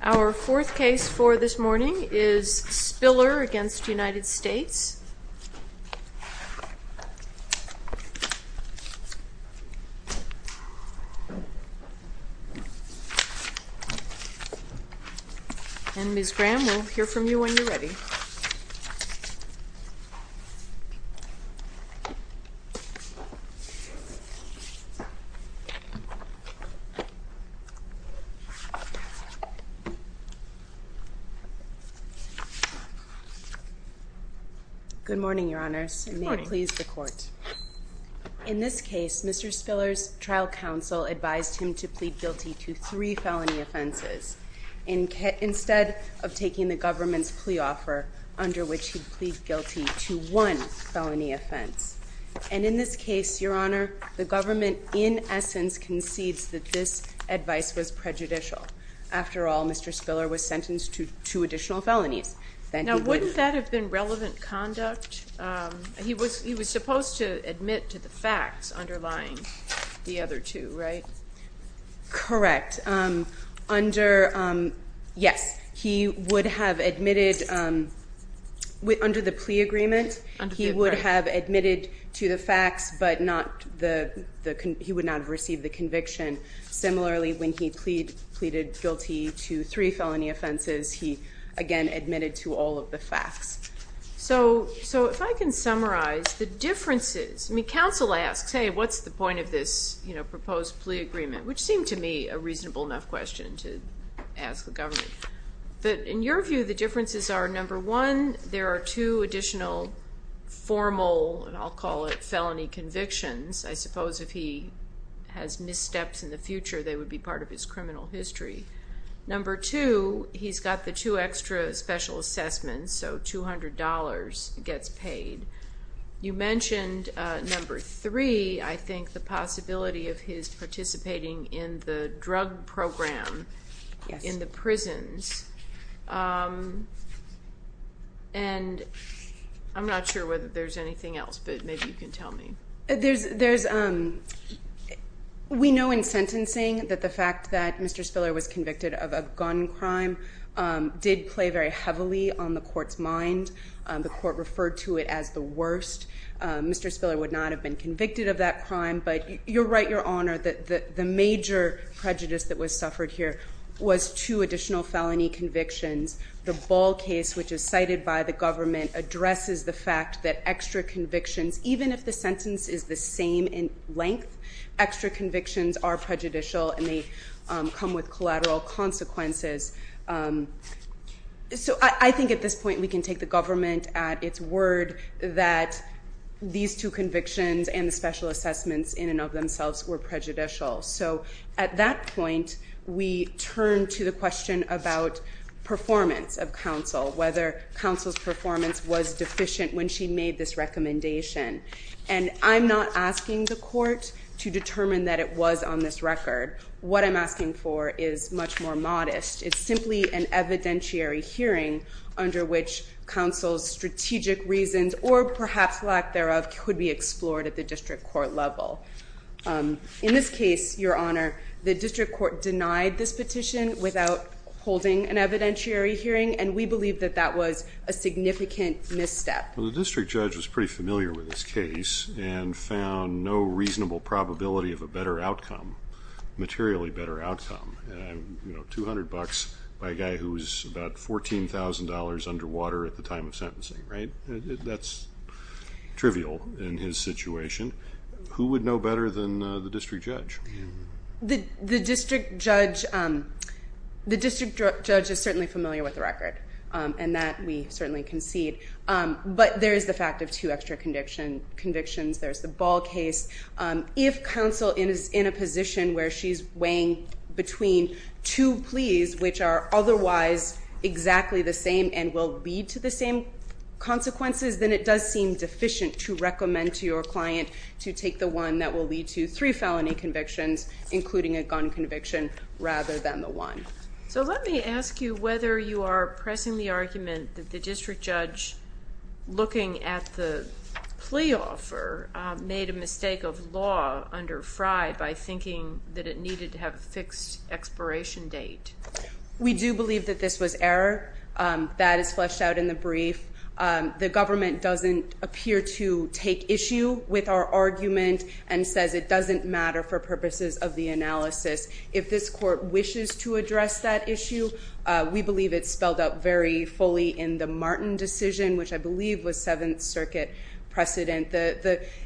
Our fourth case for this morning is Spiller v. United States, and Ms. Graham, we'll hear from you when you're ready. Good morning, Your Honors. Good morning. May it please the Court. In this case, Mr. Spiller's trial counsel advised him to plead guilty to three felony offenses instead of taking the government's plea offer, under which he'd plead guilty to one felony offense. And in this case, Your Honor, the government in essence concedes that this advice was prejudicial. After all, Mr. Spiller was sentenced to two additional felonies. Now, wouldn't that have been relevant conduct? He was supposed to admit to the facts underlying the other two, right? Correct. Under, yes, he would have admitted, under the plea agreement, he would have admitted to the facts, but not the, he would not have received the conviction. Similarly, when he pleaded guilty to three felony offenses, he, again, admitted to all of the facts. So, if I can summarize the differences, I mean, counsel asks, hey, what's the point of this, you know, proposed plea agreement? Which seemed to me a reasonable enough question to ask the government. But in your view, the differences are, number one, there are two additional formal, and I'll call it felony convictions. I suppose if he has missteps in the future, they would be part of his criminal history. Number two, he's got the two extra special assessments, so $200 gets paid. You mentioned, number three, I think the possibility of his participating in the drug program in the prisons, and I'm not sure whether there's anything else, but maybe you can tell me. We know in sentencing that the fact that Mr. Spiller was convicted of a gun crime did play very heavily on the court's mind. The court referred to it as the worst. Mr. Spiller would not have been convicted of that crime, but you're right, Your Honor, the major prejudice that was suffered here was two additional felony convictions. The Ball case, which is cited by the government, addresses the fact that extra convictions, even if the sentence is the same in length, extra convictions are prejudicial and they come with collateral consequences. So I think at this point we can take the government at its word that these two convictions and the special assessments in and of themselves were prejudicial. So at that point, we turn to the question about performance of counsel, whether counsel's performance was deficient when she made this recommendation. And I'm not asking the court to determine that it was on this record. What I'm asking for is much more modest. It's simply an evidentiary hearing under which counsel's strategic reasons or perhaps lack thereof could be explored at the district court level. In this case, Your Honor, the district court denied this petition without holding an evidentiary hearing and we believe that that was a significant misstep. Well, the district judge was pretty familiar with this case and found no reasonable probability of a better outcome, materially better outcome, $200 by a guy who was about $14,000 underwater at the time of sentencing, right? That's trivial in his situation. Who would know better than the district judge? The district judge is certainly familiar with the record and that we certainly concede. But there is the fact of two extra convictions. There's the Ball case. If counsel is in a position where she's weighing between two pleas which are otherwise exactly the same and will lead to the same consequences, then it does seem deficient to recommend to your client to take the one that will lead to three felony convictions, including a gun conviction, rather than the one. So let me ask you whether you are pressing the argument that the district judge, looking at the plea offer, made a mistake of law under Frye by thinking that it needed to have a fixed expiration date. We do believe that this was error. That is fleshed out in the brief. The government doesn't appear to take issue with our argument and says it doesn't matter for purposes of the analysis. If this court wishes to address that issue, we believe it's spelled out very fully in the Martin decision, which I believe was Seventh Circuit precedent.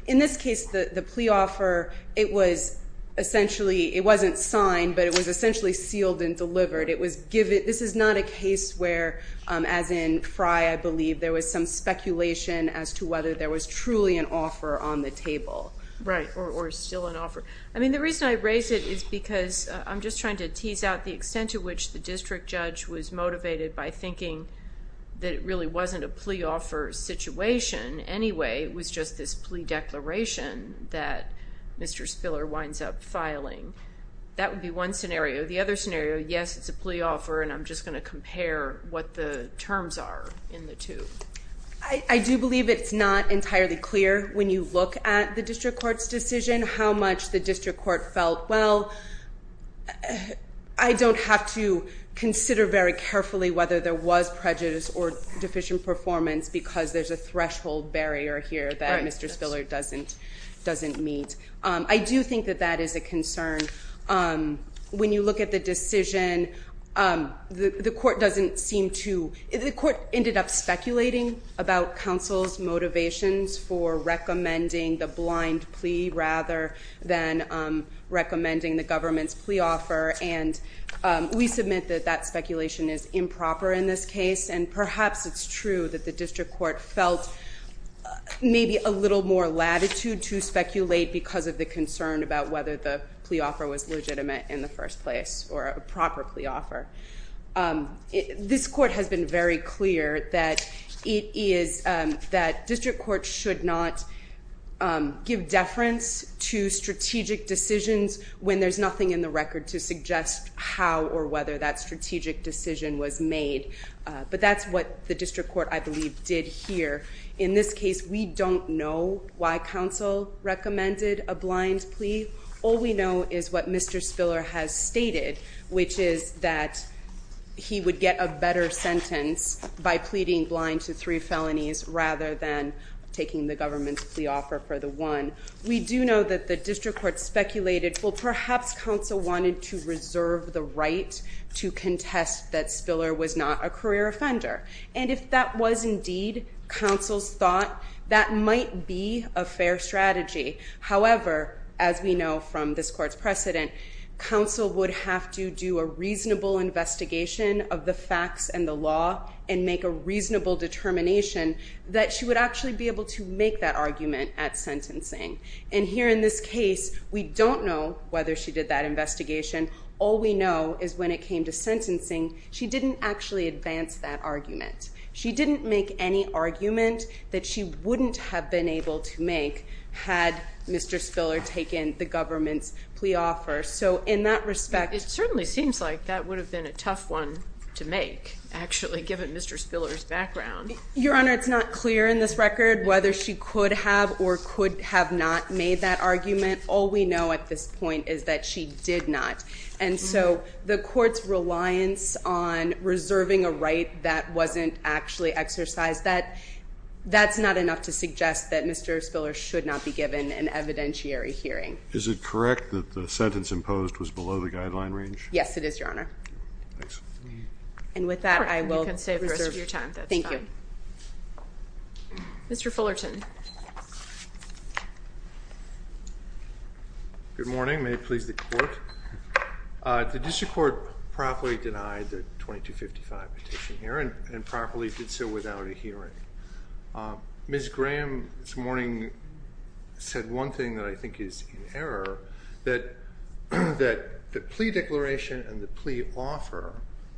In this case, the plea offer, it was essentially, it wasn't signed, but it was essentially sealed and delivered. This is not a case where, as in Frye, I believe, there was some speculation as to whether there was truly an offer on the table. Right. Or still an offer. I mean, the reason I raise it is because I'm just trying to tease out the extent to which the district judge was motivated by thinking that it really wasn't a plea offer situation anyway. It was just this plea declaration that Mr. Spiller winds up filing. That would be one scenario. The other scenario, yes, it's a plea offer, and I'm just going to compare what the terms are in the two. I do believe it's not entirely clear when you look at the district court's decision how much the district court felt, well, I don't have to consider very carefully whether there was prejudice or deficient performance because there's a threshold barrier here that Mr. Spiller doesn't meet. I do think that that is a concern. When you look at the decision, the court doesn't seem to, the court ended up speculating about counsel's motivations for recommending the blind plea rather than recommending the government's plea offer, and we submit that that speculation is improper in this case, and perhaps it's true that the district court felt maybe a little more latitude to speculate because of the concern about whether the plea offer was legitimate in the first place or a proper plea offer. This court has been very clear that it is, that district courts should not give deference to strategic decisions when there's nothing in the record to suggest how or whether that strategic decision was made, but that's what the district court, I believe, did here. In this case, we don't know why counsel recommended a blind plea. All we know is what Mr. Spiller has stated, which is that he would get a better sentence by pleading blind to three felonies rather than taking the government's plea offer for the one. We do know that the district court speculated, well, perhaps counsel wanted to reserve the right to contest that Spiller was not a career offender, and if that was indeed counsel's thought, that might be a fair strategy. However, as we know from this court's precedent, counsel would have to do a reasonable investigation of the facts and the law and make a reasonable determination that she would actually be able to make that argument at sentencing. And here in this case, we don't know whether she did that investigation. All we know is when it came to sentencing, she didn't actually advance that argument. She didn't make any argument that she wouldn't have been able to make had Mr. Spiller taken the government's plea offer. So in that respect... It certainly seems like that would have been a tough one to make, actually, given Mr. Spiller's background. Your Honor, it's not clear in this record whether she could have or could have not made that argument. All we know at this point is that she did not. And so the court's reliance on reserving a right that wasn't actually exercised, that's not enough to suggest that Mr. Spiller should not be given an evidentiary hearing. Is it correct that the sentence imposed was below the guideline range? Yes, it is, Your Honor. And with that, I will reserve... All right. You can save the rest of your time. That's fine. Thank you. Mr. Fullerton. Good morning. Good morning. May it please the court. The district court properly denied the 2255 petition here and properly did so without a hearing. Ms. Graham this morning said one thing that I think is in error, that the plea declaration and the plea offer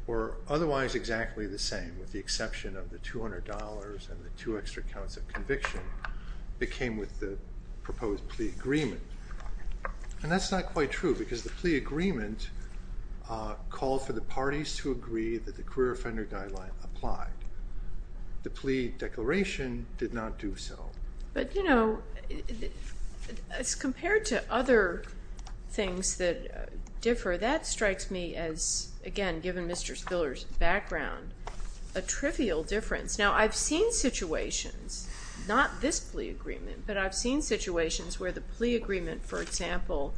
were otherwise exactly the same, with the exception of the $200 and the two extra counts of conviction that came with the proposed plea agreement. And that's not quite true because the plea agreement called for the parties to agree that the career offender guideline applied. The plea declaration did not do so. But, you know, as compared to other things that differ, that strikes me as, again, given Mr. Spiller's background, a trivial difference. Now I've seen situations, not this plea agreement, but I've seen situations where the plea agreement for example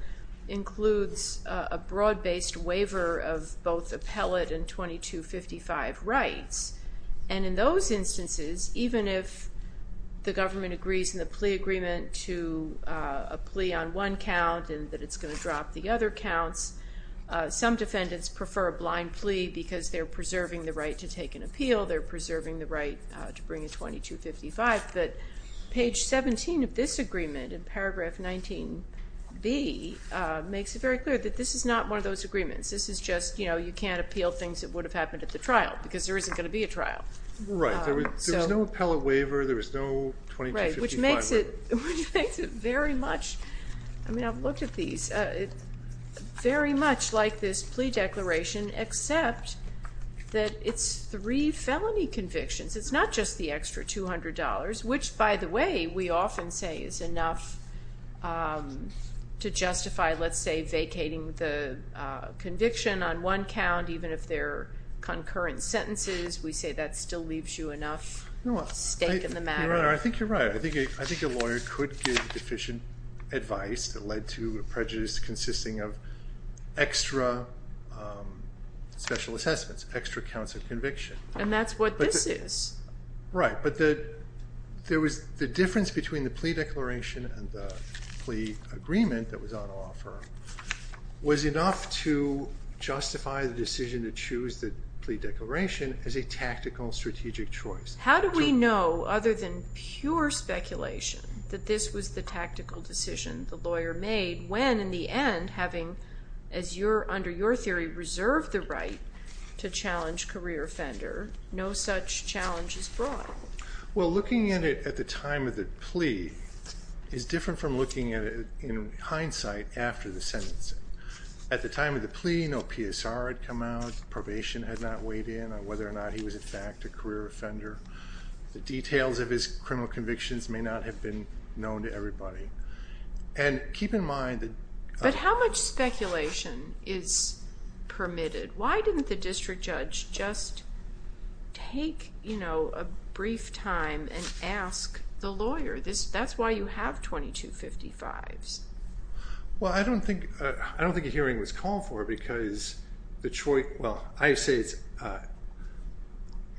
includes a broad-based waiver of both appellate and 2255 rights. And in those instances, even if the government agrees in the plea agreement to a plea on one count and that it's going to drop the other counts, some defendants prefer a blind plea because they're preserving the right to take an appeal. They're preserving the right to bring a 2255. But page 17 of this agreement, in paragraph 19b, makes it very clear that this is not one of those agreements. This is just, you know, you can't appeal things that would have happened at the trial because there isn't going to be a trial. Right. There was no appellate waiver. There was no 2255 waiver. Right. Which makes it very much, I mean I've looked at these, very much like this plea declaration except that it's three felony convictions. It's not just the extra $200, which by the way, we often say is enough to justify let's say vacating the conviction on one count even if they're concurrent sentences. We say that still leaves you enough stake in the matter. Your Honor, I think you're right. I think a lawyer could give deficient advice that led to a prejudice consisting of extra special assessments, extra counts of conviction. And that's what this is. Right. But the difference between the plea declaration and the plea agreement that was on offer was enough to justify the decision to choose the plea declaration as a tactical strategic choice. How do we know, other than pure speculation, that this was the tactical decision the lawyer made when in the end having, as under your theory, reserved the right to challenge career offender, no such challenge is brought? Well, looking at it at the time of the plea is different from looking at it in hindsight after the sentencing. At the time of the plea, no PSR had come out, probation had not weighed in on whether or not he was in fact a career offender. The details of his criminal convictions may not have been known to everybody. And keep in mind that- But how much speculation is permitted? Why didn't the district judge just take a brief time and ask the lawyer? That's why you have 2255s. Well, I don't think a hearing was called for because the choice- Well, I say it's-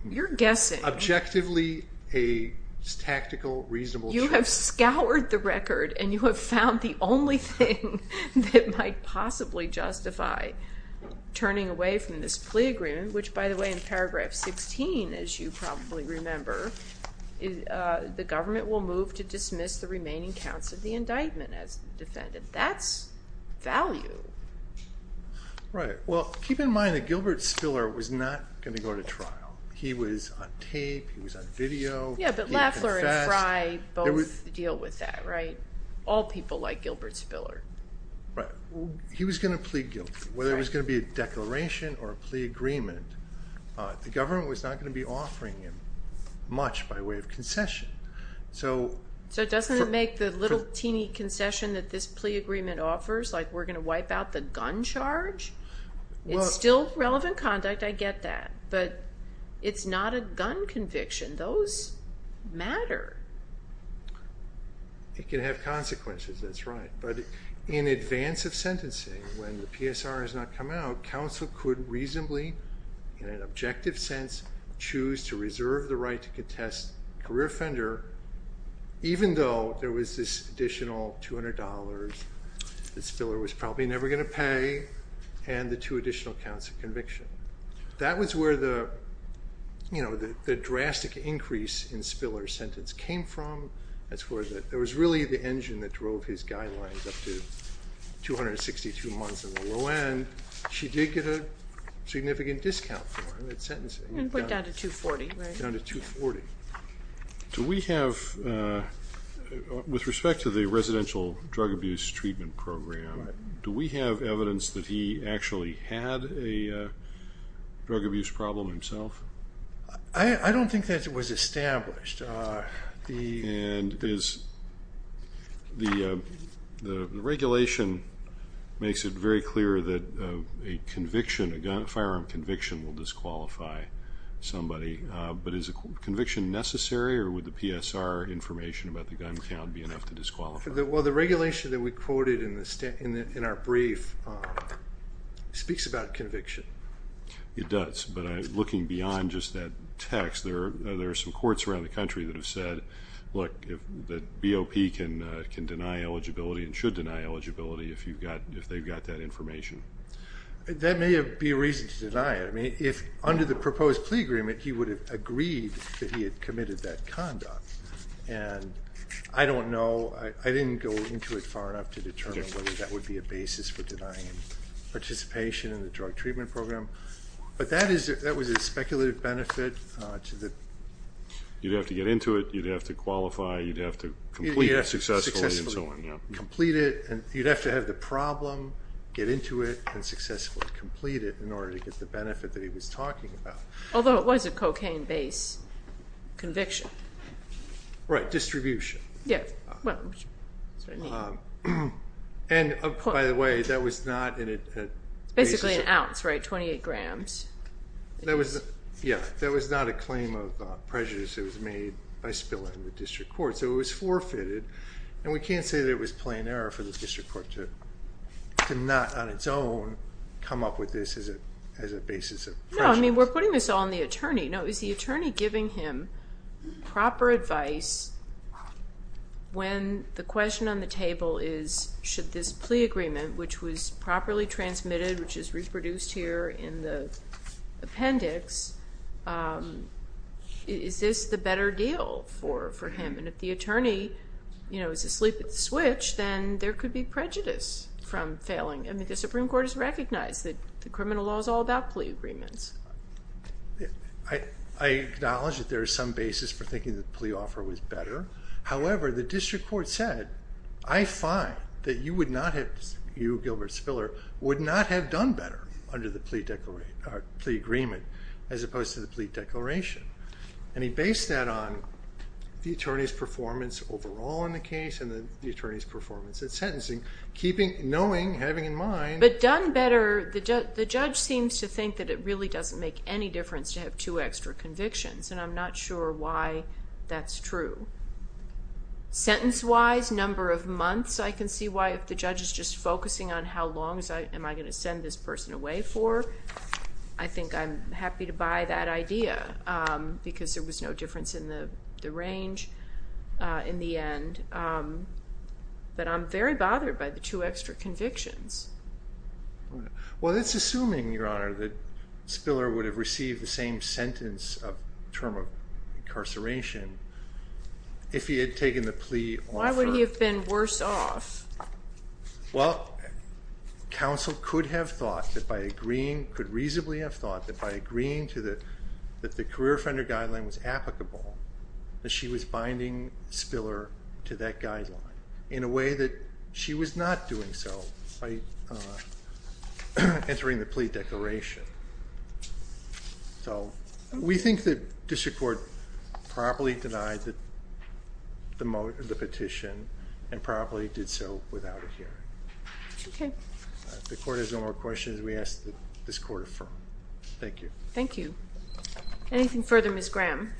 You're guessing. Objectively a tactical, reasonable choice. You have scoured the record and you have found the only thing that might possibly justify turning away from this plea agreement, which by the way in paragraph 16, as you probably remember, the government will move to dismiss the remaining counts of the indictment as the defendant. That's value. Right. Well, keep in mind that Gilbert Spiller was not going to go to trial. He was on tape. He was on video. Yeah, but Lafleur and Fry both deal with that, right? All people like Gilbert Spiller. He was going to plead guilty. Whether it was going to be a declaration or a plea agreement, the government was not going to be offering him much by way of concession. So doesn't it make the little teeny concession that this plea agreement offers, like we're going to wipe out the gun charge, it's still relevant conduct. I get that, but it's not a gun conviction. Those matter. It can have consequences. That's right. But in advance of sentencing, when the PSR has not come out, counsel could reasonably, in an objective sense, choose to reserve the right to contest career offender, even though there was this additional $200 that Spiller was probably never going to pay and the two additional counts of conviction. That was where the drastic increase in Spiller's sentence came from. It was really the engine that drove his guidelines up to 262 months in the low end. She did get a significant discount for him at sentencing. It went down to 240, right? Down to 240. Do we have, with respect to the residential drug abuse treatment program, do we have evidence that he actually had a drug abuse problem himself? I don't think that was established. The regulation makes it very clear that a firearm conviction will disqualify somebody, but is a conviction necessary, or would the PSR information about the gun count be enough to disqualify? Well, the regulation that we quoted in our brief speaks about conviction. It does, but looking beyond just that text, there are some courts around the country that have said, look, the BOP can deny eligibility and should deny eligibility if they've got that information. That may be a reason to deny it. If under the proposed plea agreement, he would have agreed that he had committed that conduct. I don't know. I didn't go into it far enough to determine whether that would be a basis for denying participation in the drug treatment program, but that was a speculative benefit. You'd have to get into it. You'd have to qualify. You'd have to complete it successfully, and so on. Complete it, and you'd have to have the problem, get into it, and successfully complete it in order to get the benefit that he was talking about. Although it was a cocaine-based conviction. Right, distribution. Yeah. And, by the way, that was not in a... It's basically an ounce, right, 28 grams. Yeah, that was not a claim of prejudice. It was made by spilling in the district court, so it was forfeited, and we can't say that it was plain error for the district court to not, on its own, come up with this as a basis of prejudice. No, is the attorney giving him proper advice when the question on the table is, should this plea agreement, which was properly transmitted, which is reproduced here in the appendix, is this the better deal for him? And if the attorney is asleep at the switch, then there could be prejudice from failing. I mean, the Supreme Court has recognized that the criminal law is all about plea agreements. I acknowledge that there is some basis for thinking that the plea offer was better. However, the district court said, I find that you would not have, you, Gilbert Spiller, would not have done better under the plea agreement as opposed to the plea declaration. And he based that on the attorney's performance overall in the case and the attorney's performance at sentencing, knowing, having in mind... But done better, the judge seems to think that it really doesn't make any difference to have two extra convictions, and I'm not sure why that's true. Sentence-wise, number of months, I can see why, if the judge is just focusing on how long am I going to send this person away for, I think I'm happy to buy that idea, because there was no difference in the range in the end. But I'm very bothered by the two extra convictions. Well, that's assuming, Your Honor, that Spiller would have received the same sentence of term of incarceration if he had taken the plea offer. Why would he have been worse off? Well, counsel could have thought that by agreeing, could reasonably have thought that by agreeing that the career offender guideline was applicable, that she was binding Spiller to that guideline in a way that she was not doing so by entering the plea declaration. So we think that district court properly denied the petition and properly did so without a hearing. Okay. If the court has no more questions, we ask that this court affirm. Thank you. Anything further, Ms. Graham?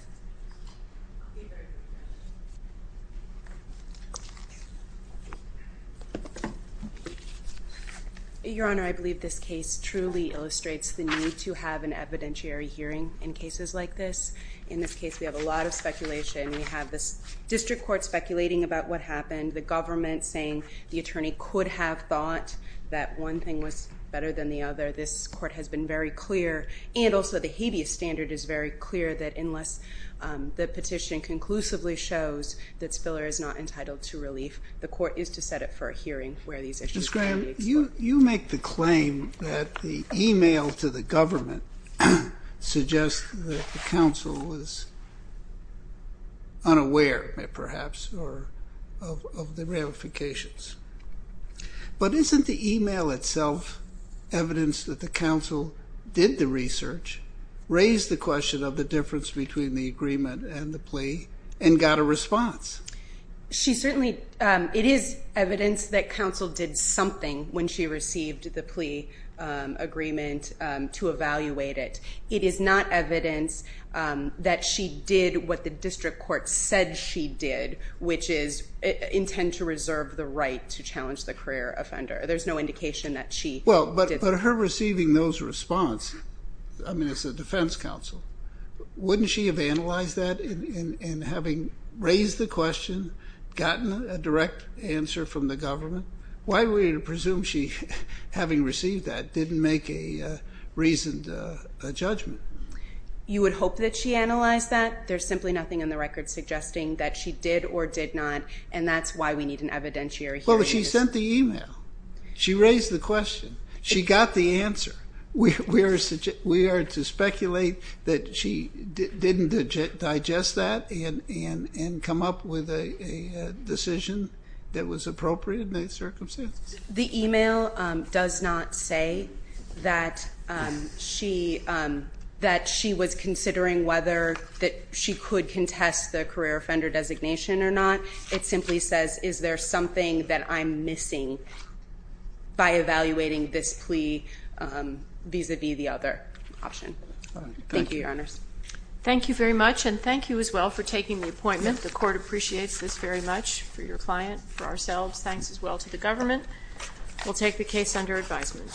Your Honor, I believe this case truly illustrates the need to have an evidentiary hearing in cases like this. In this case, we have a lot of speculation. We have this district court speculating about what happened, the government saying the attorney could have thought that one thing was better than the other. This court has been very clear and also the habeas standard is very clear that unless the petition conclusively shows that Spiller is not entitled to relief, the court is to set up for a hearing where these issues can be explored. Ms. Graham, you make the claim that the email to the government suggests that the counsel was unaware, perhaps, of the ramifications. But isn't the email itself evidence that the counsel did the research, raised the question of the difference between the agreement and the plea, and got a response? It is evidence that counsel did something when she received the plea agreement to evaluate it. It is not evidence that she did what the district court said she did, which is intend to reserve the right to challenge the career offender. There is no indication that she did that. But her receiving those response, as a defense counsel, wouldn't she have analyzed that and having raised the question, gotten a direct answer from the government? Why would we presume she, having received that, didn't make a reasoned judgment? You would hope that she analyzed that. There is simply nothing in the record suggesting that she did or did not, and that is why we need an evidentiary hearing. Well, but she sent the email. She raised the question. She got the answer. We are to speculate that she didn't digest that and come up with a decision that was appropriate in those circumstances? The email does not say that she was considering whether she could contest the career offender designation or not. It simply says, is there something that I'm missing by evaluating this plea vis-a-vis the other option? Thank you, Your Honors. Thank you very much, and thank you as well for taking the appointment. The court appreciates this very much, for your client, for ourselves. Thanks as well to the government. We'll take the case under advisement.